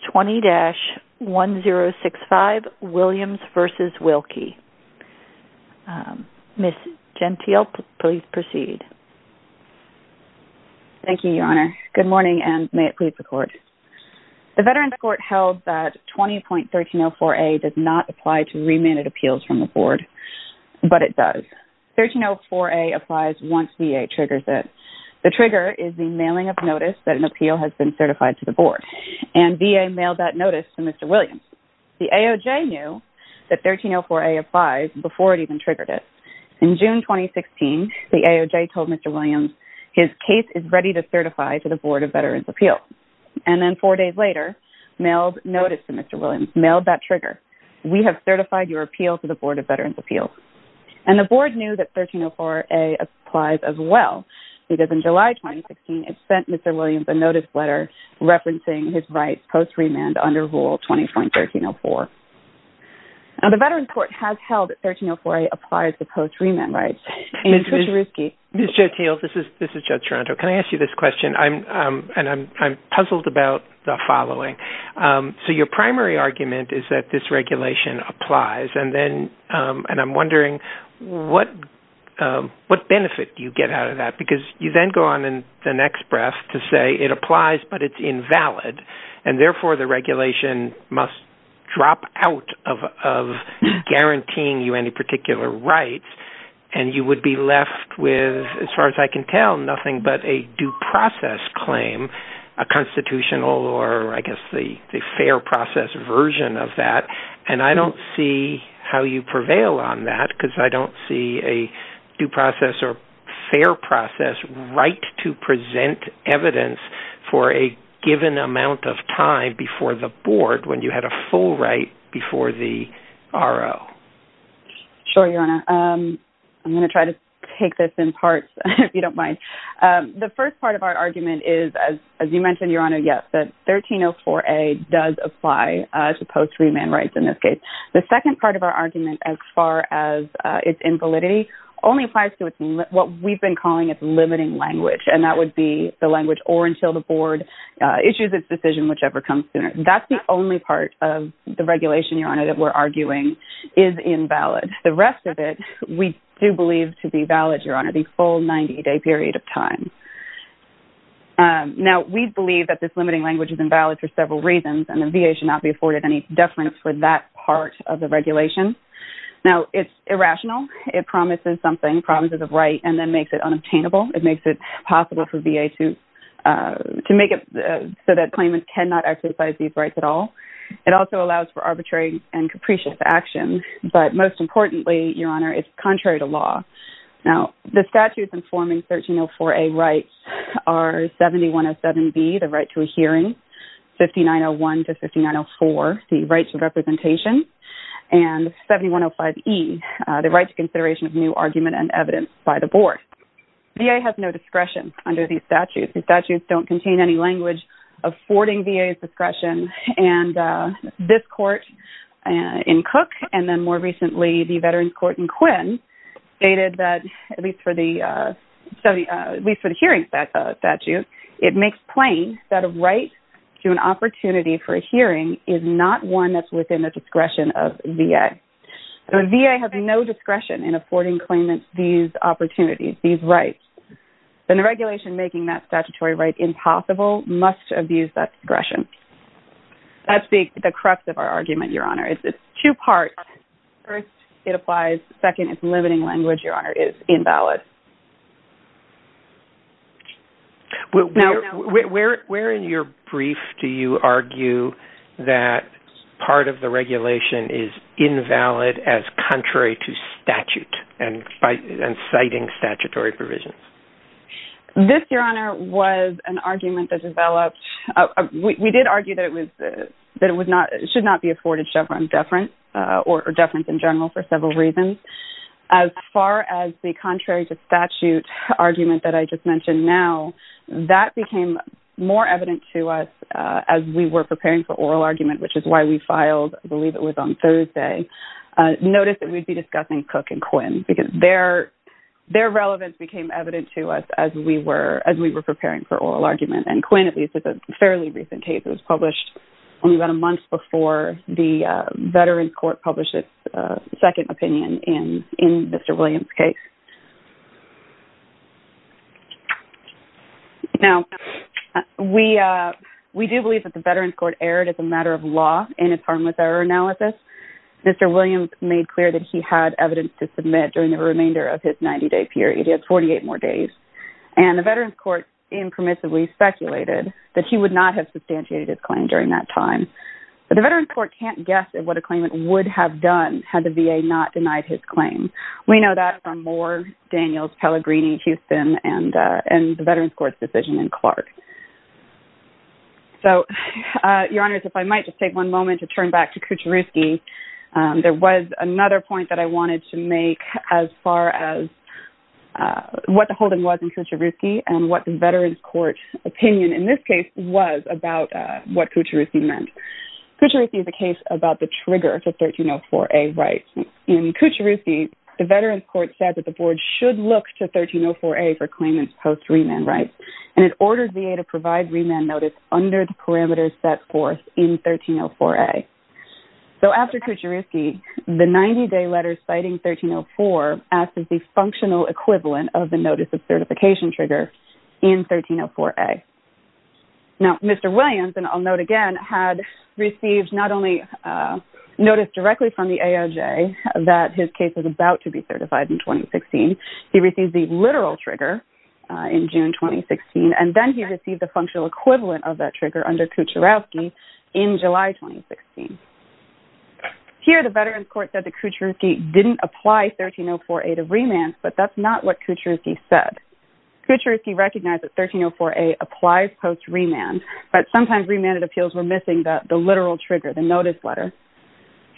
v. Wilkie. Ms. Gentile, please proceed. Thank you, Your Honor. Good morning and may it please the Court. The Veterans Court held that 20.1304A does not apply to remanded appeals from the Board, but it does. 1304A applies once VA triggers it. The trigger is the mailing of notice that an appeal has been certified to the Board, and VA mailed that notice to Mr. Williams. The AOJ knew that 1304A applies before it even triggered it. In June 2016, the AOJ told Mr. Williams his case is ready to certify to the Board of Veterans Appeals, and then four days later, mailed notice to Mr. Williams, mailed that trigger. We have certified your appeal to the Board of Veterans Appeals. And the Board knew that 1304A applies as well, because in July 2016, it sent Mr. Williams a notice letter referencing his rights post-remand under Rule 20.1304. Now, the Veterans Court has held that 1304A applies to post-remand rights. Ms. Gentile, this is Judge Toronto. Can I ask you this question? And I'm puzzled about the following. So, your primary argument is that this regulation applies, and I'm wondering what benefit you get out of that, because you then go on in the next breath to say it applies, but it's invalid. And therefore, the regulation must drop out of guaranteeing you any particular rights, and you would be left with, as far as I can tell, nothing but a due process claim, a constitutional or, I guess, the fair process version of that. And I don't see how you prevail on that, because I don't see a due process or fair process right to present evidence for a given amount of time before the Board, when you had a full right before the RO. Sure, Your Honor. I'm going to try to take this in parts, if you don't mind. The first part of our argument is, as you mentioned, Your Honor, yes, that 1304A does apply to post-remand rights in this case. The second part of our argument, as far as its invalidity, only applies to what we've been calling its limiting language, and that would be the language or until the Board issues its decision, whichever comes sooner. That's the only part of the regulation, Your Honor, that we're arguing is invalid. The rest of it, we do believe to be valid, Your Honor, the full 90-day period of time. Now, we believe that this limiting language is invalid for several reasons, and the VA should not be afforded any deference for that part of the regulation. Now, it's irrational. It promises something, promises a right, and then makes it unobtainable. It makes it possible for VA to make it so that claimants cannot exercise these rights at all. It also allows for arbitrary and capricious action. But most importantly, Your Honor, it's contrary to law. Now, the statutes informing 1304A rights are 7107B, the right to a hearing, 5901 to 5904, the right to representation, and 7105E, the right to consideration of new argument and evidence by the Board. VA has no discretion under these statutes. The statutes don't contain any language affording VA's discretion, and this court in Cook and then more recently, the Veterans Court in Quinn stated that at least for the hearing statute, it makes plain that a right to an opportunity for a hearing is not one that's within the discretion of VA. The VA has no discretion in affording claimants these opportunities, these rights, and the regulation making that statutory right impossible must abuse that discretion. That's the crux of our argument, Your Honor. It's two parts. First, it applies. Second, it's limiting language, Your Honor, is invalid. Where in your brief do you argue that part of the regulation is invalid as contrary to statute and citing statutory provisions? This, Your Honor, was an argument that developed. We did argue that it should not be afforded deference in general for several reasons. As far as the contrary to statute argument that I just mentioned now, that became more evident to us as we were preparing for oral argument, which is why we filed, I believe it was on Thursday, notice that we'd be discussing Cook and Quinn because their relevance became evident to us as we were preparing for oral argument. Quinn, at least, is a fairly recent case. It was published only about a month before the Veterans Court published second opinion in Mr. Williams' case. Now, we do believe that the Veterans Court erred as a matter of law in its harmless error analysis. Mr. Williams made clear that he had evidence to submit during the remainder of his 90-day period. He had 48 more days. The Veterans Court impermissibly speculated that he would not have substantiated his claim during that time. The Veterans Court can't guess at what a claimant would have done had the VA not denied his claim. We know that from Moore, Daniels, Pellegrini, Houston, and the Veterans Court's decision in Clark. So, Your Honors, if I might just take one moment to turn back to Kucherouski. There was another point that I wanted to make as far as what the holding was in Kucherouski and what the Veterans Court opinion in this case was about what Kucherouski meant. Kucherouski is a case about the trigger to 1304A rights. In Kucherouski, the Veterans Court said that the board should look to 1304A for claimants post-remand rights, and it ordered VA to provide remand notice under the parameters set forth in 1304A. So, after Kucherouski, the 90-day letter citing 1304 acts as the functional equivalent of the notice of certification trigger in 1304A. Now, Mr. Williams, and I'll note again, had received not only notice directly from the AOJ that his case was about to be certified in 2016. He received the literal trigger in June 2016, and then he received the functional equivalent of that trigger under Kucherouski in July 2016. Here, the Veterans Court said that Kucherouski didn't apply 1304A remand, but that's not what Kucherouski said. Kucherouski recognized that 1304A applies post-remand, but sometimes remanded appeals were missing the literal trigger, the notice letter.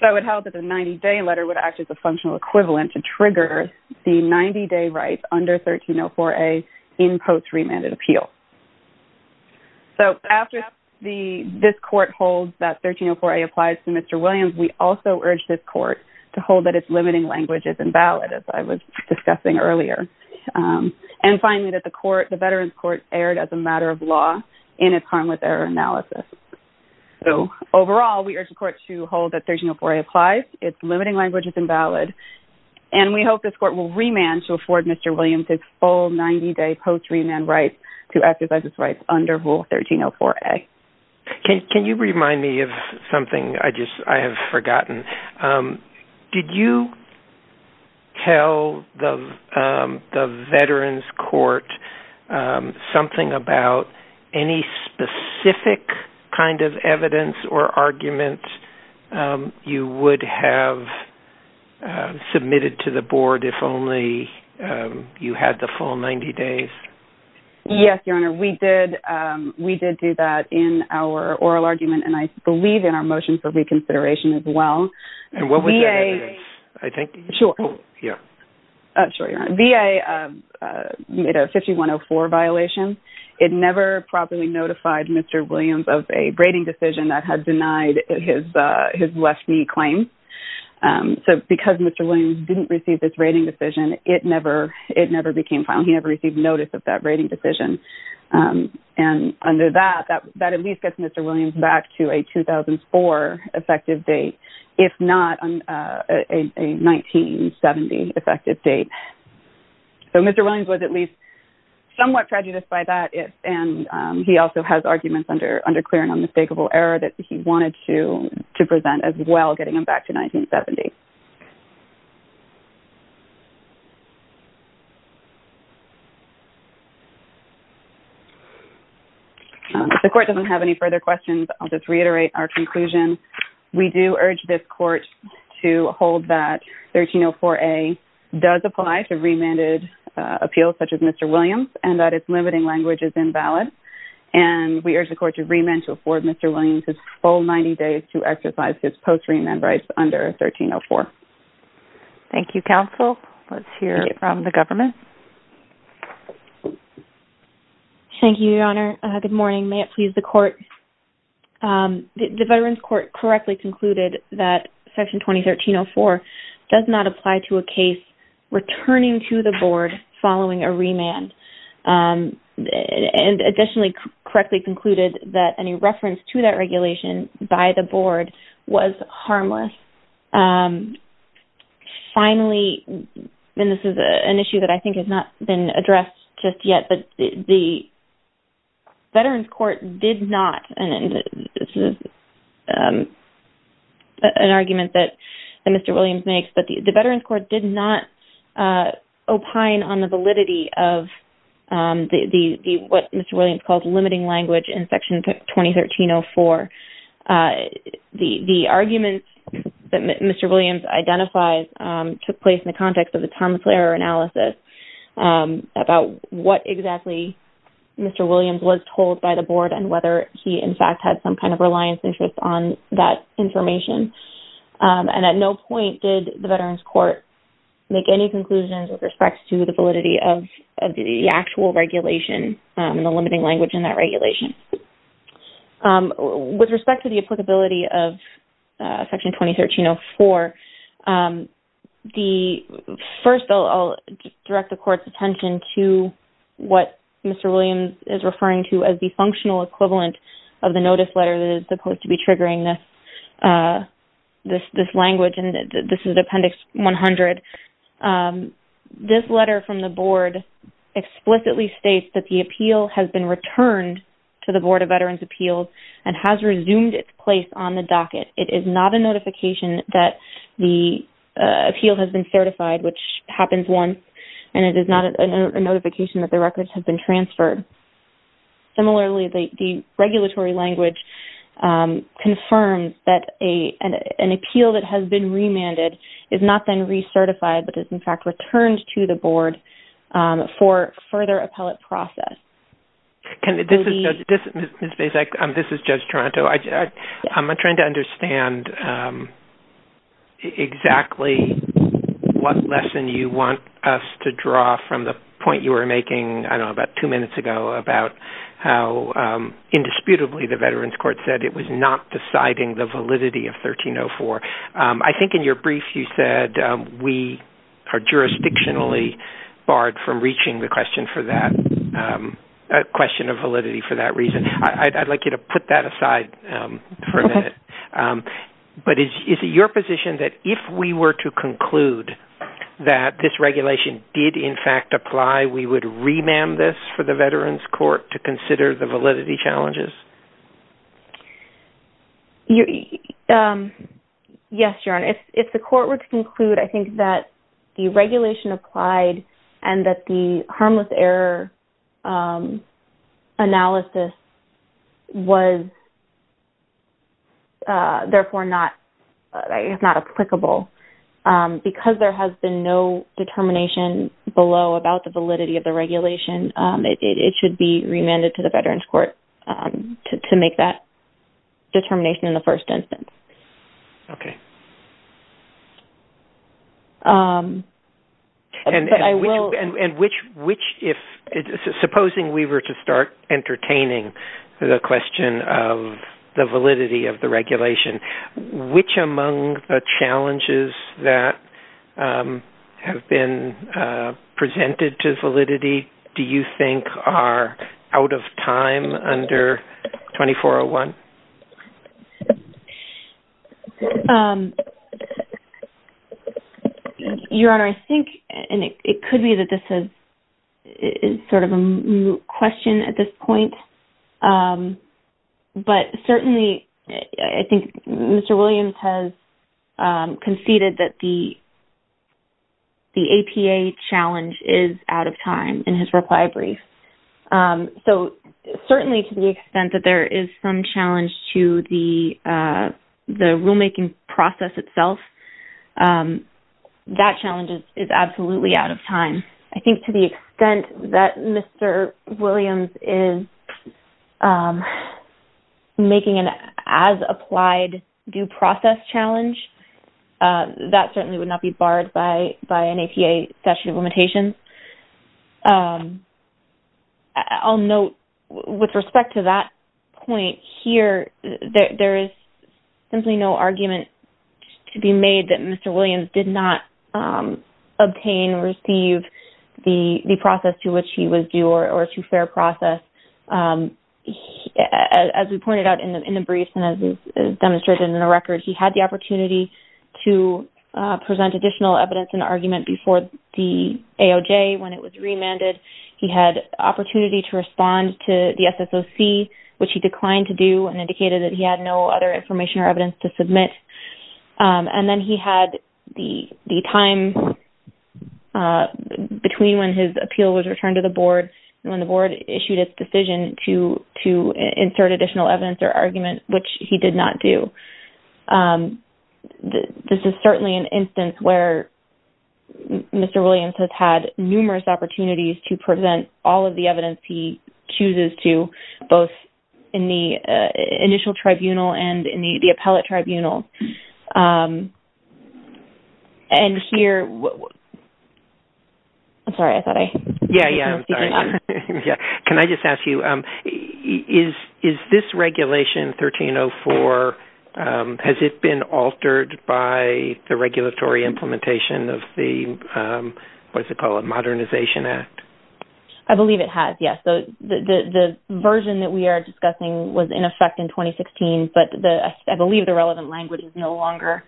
So, it held that the 90-day letter would act as a functional equivalent to trigger the 90-day rights under 1304A in post-remanded appeal. So, after this court holds that 1304A applies to Mr. Williams, we also urge this court to hold that its limiting language is invalid, as I was discussing earlier. And finally, that the Veterans Court erred as a matter of law in its harm with error analysis. So, overall, we urge the court to hold that 1304A applies, its limiting language is invalid, and we hope this court will remand to afford Mr. Williams his full 90-day post-remand right to exercise his rights under Rule 1304A. Can you remind me of something I have forgotten? Did you tell the Veterans Court something about any specific kind of evidence or argument you would have submitted to the board if only you had the full 90 days? Yes, Your Honor. We did do that in our oral argument, and I believe in our motion for reconsideration as well. And what was that evidence, I think? Sure. Oh, yeah. Oh, sure, Your Honor. VA made a 5104 violation. It never properly notified Mr. Williams of a rating decision that had denied his left knee claim. So, because Mr. Williams didn't receive this rating decision, it never became final. He never received notice of that rating decision. And under that, that at least gets Mr. Williams back to a 2004 effective date, if not a 1970 effective date. So, Mr. Williams was at least somewhat prejudiced by that, and he also has arguments under clear and unmistakable error that he wanted to present as well, getting him back to 2004. If the court doesn't have any further questions, I'll just reiterate our conclusion. We do urge this court to hold that 1304A does apply to remanded appeals such as Mr. Williams, and that its limiting language is invalid. And we urge the court to remand to afford Mr. Williams his full 90 days to exercise his post-remand rights under 1304. Thank you, counsel. Let's hear from the government. Thank you, Your Honor. Good morning. May it please the court. The Veterans Court correctly concluded that Section 2304 does not apply to a case returning to the board following a remand. And additionally, correctly concluded that any reference to that finally, and this is an issue that I think has not been addressed just yet, but the Veterans Court did not, and this is an argument that Mr. Williams makes, but the Veterans Court did not opine on the validity of what Mr. Williams called limiting language in Section 2304. The argument that Mr. Williams identifies took place in the context of the Thomas Lehrer analysis about what exactly Mr. Williams was told by the board and whether he in fact had some kind of reliance interest on that information. And at no point did the Veterans Court make any conclusions with respect to the validity of the actual regulation and the limiting language in that regulation. With respect to the applicability of Section 2304, first, I'll direct the court's attention to what Mr. Williams is referring to as the functional equivalent of the notice letter that is supposed to be triggering this language, and this is Appendix 100. This letter from the board explicitly states that the appeal has been returned to the Board of Veterans Appeals and has resumed its place on the docket. It is not a notification that the appeal has been certified, which happens once, and it is not a notification that the records have been transferred. Similarly, the regulatory language confirms that an appeal that has been remanded is not then recertified, but is in fact returned to the board for further appellate process. This is Judge Toronto. I'm trying to understand exactly what lesson you want us to draw from the point you were making about two minutes ago about how indisputably the Veterans Court said it was not deciding the validity of 1304. I think in your brief, you said we are jurisdictionally barred from reaching the question of validity for that reason. I'd like you to put that aside for a minute, but is it your position that if we were to conclude that this regulation did, in fact, apply, we would remand this for the Veterans Court to consider the question? Yes, Your Honor. If the court were to conclude, I think that the regulation applied and that the harmless error analysis was therefore not applicable. Because there has been no determination below about the validity of the regulation, it should be remanded to the Veterans Court to make that determination in the first instance. Okay. Supposing we were to start entertaining the question of the validity of the regulation, which among the challenges that have been presented to validity do you think are out of time under 2401? Your Honor, I think, and it could be that this is sort of a question at this point, but certainly, I think Mr. Williams has conceded that the APA challenge is out of time in his reply brief. Certainly, to the extent that there is some challenge to the rulemaking process itself, that challenge is absolutely out of time. I think to the extent that Mr. Williams is making an as-applied due process challenge, that certainly would not be barred by an APA statute of limitations. I'll note with respect to that point here, there is simply no argument to be made that Mr. Williams did not obtain or receive the process to which he was due or to fair process. As we pointed out in the briefs and as demonstrated in the records, he had the opportunity to present additional evidence and argument before the AOJ when it was remanded. He had opportunity to respond to the SSOC, which he declined to do and indicated that he had no other information or evidence to submit. Then he had the time between when his appeal was returned to the board and when the board issued its decision to insert additional evidence or argument, which he did not do. This is certainly an instance where Mr. Williams has had numerous opportunities to present all of the evidence he chooses to both in the initial tribunal and in the appellate tribunal. Can I just ask you, is this regulation 1304, has it been altered by the regulatory implementation of the Modernization Act? I believe it has, yes. The version that we are discussing was in effect in 2016, but I believe the relevant language is no longer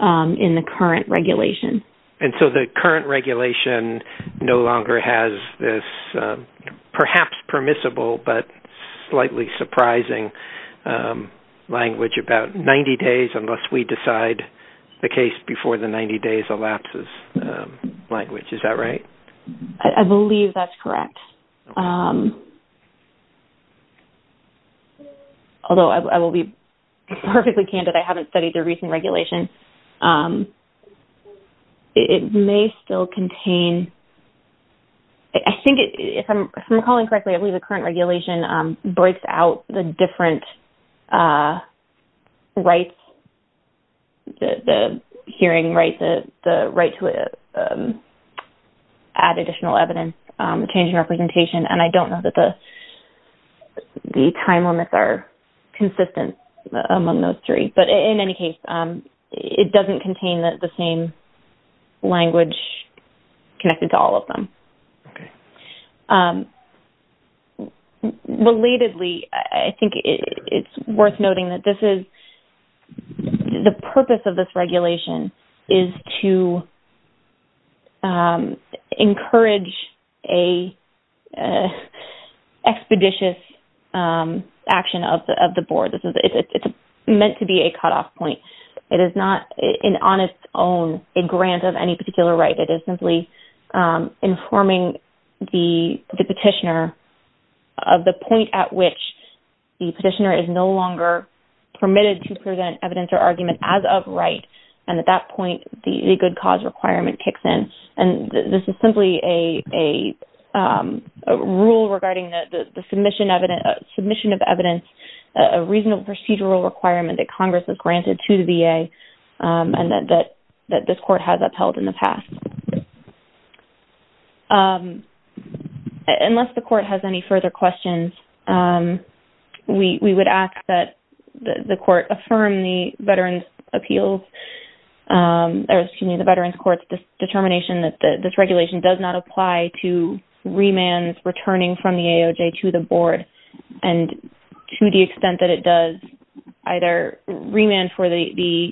in the current regulation. The current regulation no longer has this perhaps permissible but slightly surprising language about 90 days unless we decide the case before the 90 days elapses language, is that right? I believe that's correct. Although I will be perfectly candid, I haven't studied the recent regulation. It may still contain, I think if I'm calling correctly, I believe the current regulation breaks out the different rights, the hearing rights, the right to add additional evidence, change in representation, and I don't know that the time limits are consistent among those three. But in any case, it doesn't contain the same language connected to all of them. Relatedly, I think it's worth noting that the purpose of this regulation is to encourage an expeditious action of the board. It's meant to be a cutoff point. It is not an honest own, a grant of any particular right. It is simply informing the petitioner of the point at which the petitioner is no longer permitted to present evidence or argument as of right, and at that point, the good cause requirement kicks in. This is simply a rule regarding the submission of evidence, a reasonable procedural requirement that Congress has granted to the VA and that this court has upheld in the past. Unless the court has any further questions, we would ask that the court affirm the Veterans' Court's determination that this regulation does not apply to remands returning from the AOJ to the board and to the extent that it does either remand for the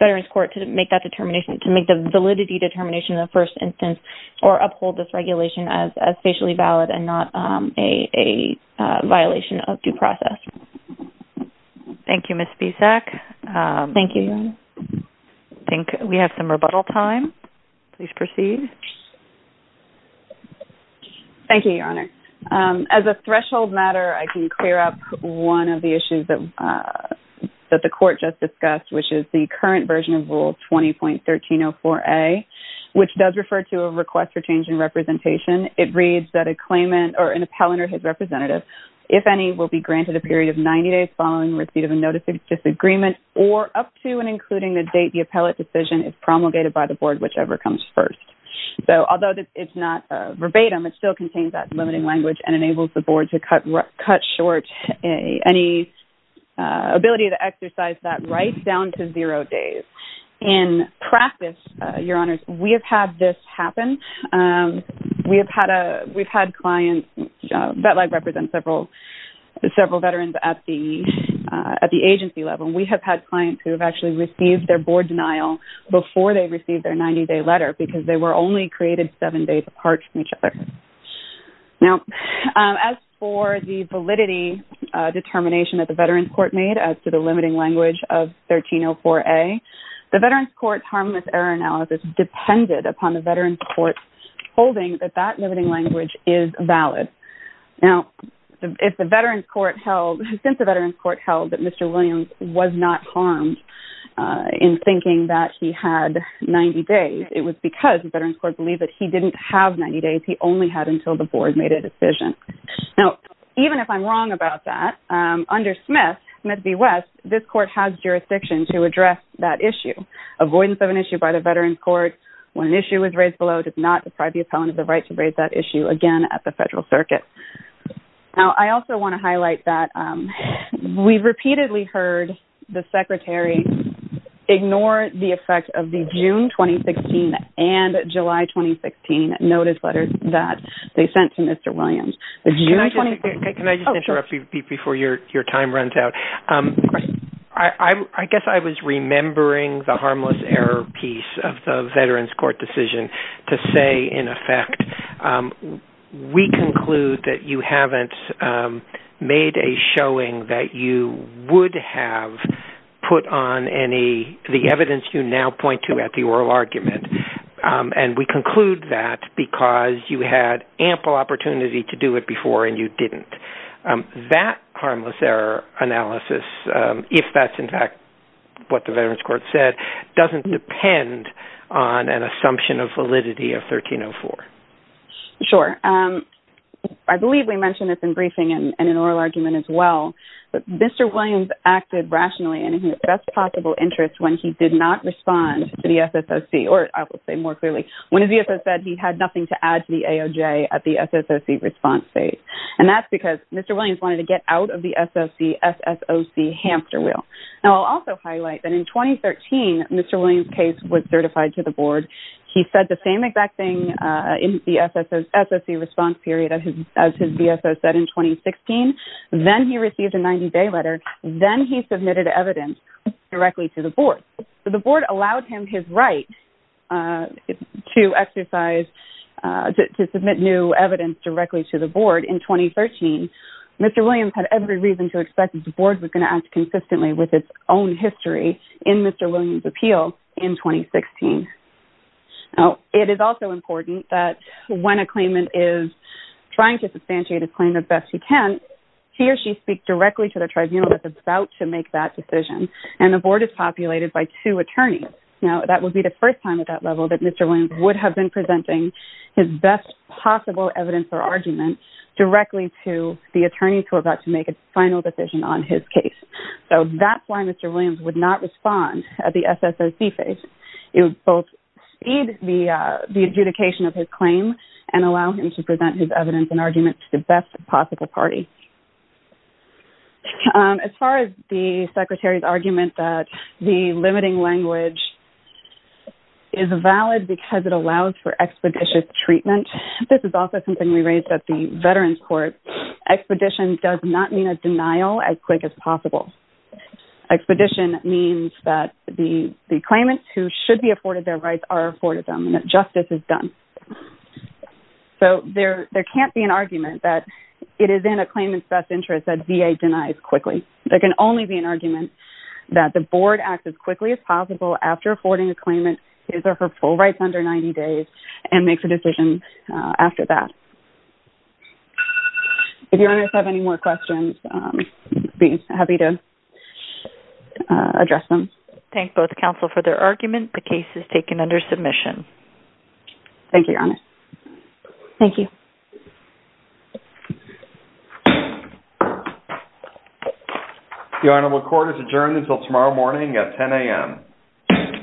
Veterans' Court to make the validity determination of the first instance or uphold this regulation as facially valid and not a violation of due process. Thank you, Ms. Spisak. Thank you. We have some rebuttal time. Please proceed. Thank you, Your Honor. As a threshold matter, I can clear up one of the issues that the court just discussed, which is the current version of Rule 20.1304A, which does refer to a request for change in representation. It reads that a claimant or an appellant or his representative, if any, will be granted a period of 90 days following receipt of a notice of disagreement or up to and including the date the appellate decision is promulgated by the board, whichever comes first. Although it's not verbatim, it still contains that limiting language and enables the board to cut short any ability to exercise that right down to zero days. In practice, Your Honors, we have had this happen. We've had clients that represent several veterans at the agency level. We have had clients who have actually received their board denial before they received their 90-day letter because they were only created seven days apart from each other. Now, as for the validity determination that the Veterans Court made as to the limiting language of 1304A, the Veterans Court's harmless error analysis depended upon the Veterans Court's holding that that limiting language is valid. Now, since the Veterans Court held that Mr. Williams was not harmed in thinking that he had 90 days, it was because the Veterans Court believed that he didn't have 90 days. He only had until the board made a decision. Now, even if I'm wrong about that, under Smith v. West, this court has jurisdiction to address that issue. Avoidance of an issue by the Veterans Court when an issue is raised below does not deprive the appellant of the right to raise that issue again at the federal circuit. Now, I also want to highlight that we've repeatedly heard the secretary ignore the effect of the June 2016 and July 2016 notice letters that they sent to Mr. Williams. The June 2016... Can I just interrupt you before your time runs out? I guess I was remembering the harmless error piece of the Veterans Court decision to say, in effect, we conclude that you haven't made a showing that you would have put on the evidence you now point to at the oral argument, and we conclude that because you had ample opportunity to do it before and you didn't. That harmless error analysis, if that's in fact what the Veterans Court said, doesn't depend on an assumption of validity of 1304. Sure. I believe we mentioned this in briefing and in oral argument as well, but Mr. Williams acted rationally and in his best possible interest when he did not respond to the SSOC, or I will say more clearly, when the SSOC said he had nothing to add to the AOJ at the SSOC response phase. And that's because Mr. Williams wanted to get out of the SSOC SSOC hamster wheel. Now, I'll also highlight that in 2013, Mr. Williams' case was certified to the board. He said the same exact thing in the SSOC response period as his BSO said in 2016. Then he received a 90-day letter. Then he submitted evidence directly to the board. The board allowed him his right to exercise, to submit new evidence directly to the board in 2013. Mr. Williams had every reason to expect that the board was going to act consistently with its own history in Mr. Williams' appeal in 2016. Now, it is also important that when a claimant is trying to substantiate his claim as best he can, he or she speaks directly to the tribunal that's about to make that decision. And the board is populated by two attorneys. Now, that would be the first time at that level that Mr. Williams would have been presenting his best possible evidence or argument directly to the attorneys who are about to make a final decision on his case. So, that's why Mr. Williams would not respond at the SSOC phase. It would both speed the adjudication of his claim and allow him to present his evidence and argument to the best possible party. As far as the Secretary's argument that the limiting language is valid because it allows for expeditious treatment, this is also something we raised at the Veterans Court. Expedition does not mean a denial as quick as possible. Expedition means that the claimants who should be afforded their rights are afforded them and that justice is done. So, there can't be an argument that it is in a claimant's best interest that VA denies quickly. There can only be an argument that the board acts as quickly as possible after affording a claimant his or her full rights under 90 days and makes a decision after that. If your honors have any more questions, I'd be happy to address them. Thank both counsel for their argument. The case is taken under submission. Thank you, Your Honor. Thank you. Your Honor, the court is adjourned until tomorrow morning at 10 a.m.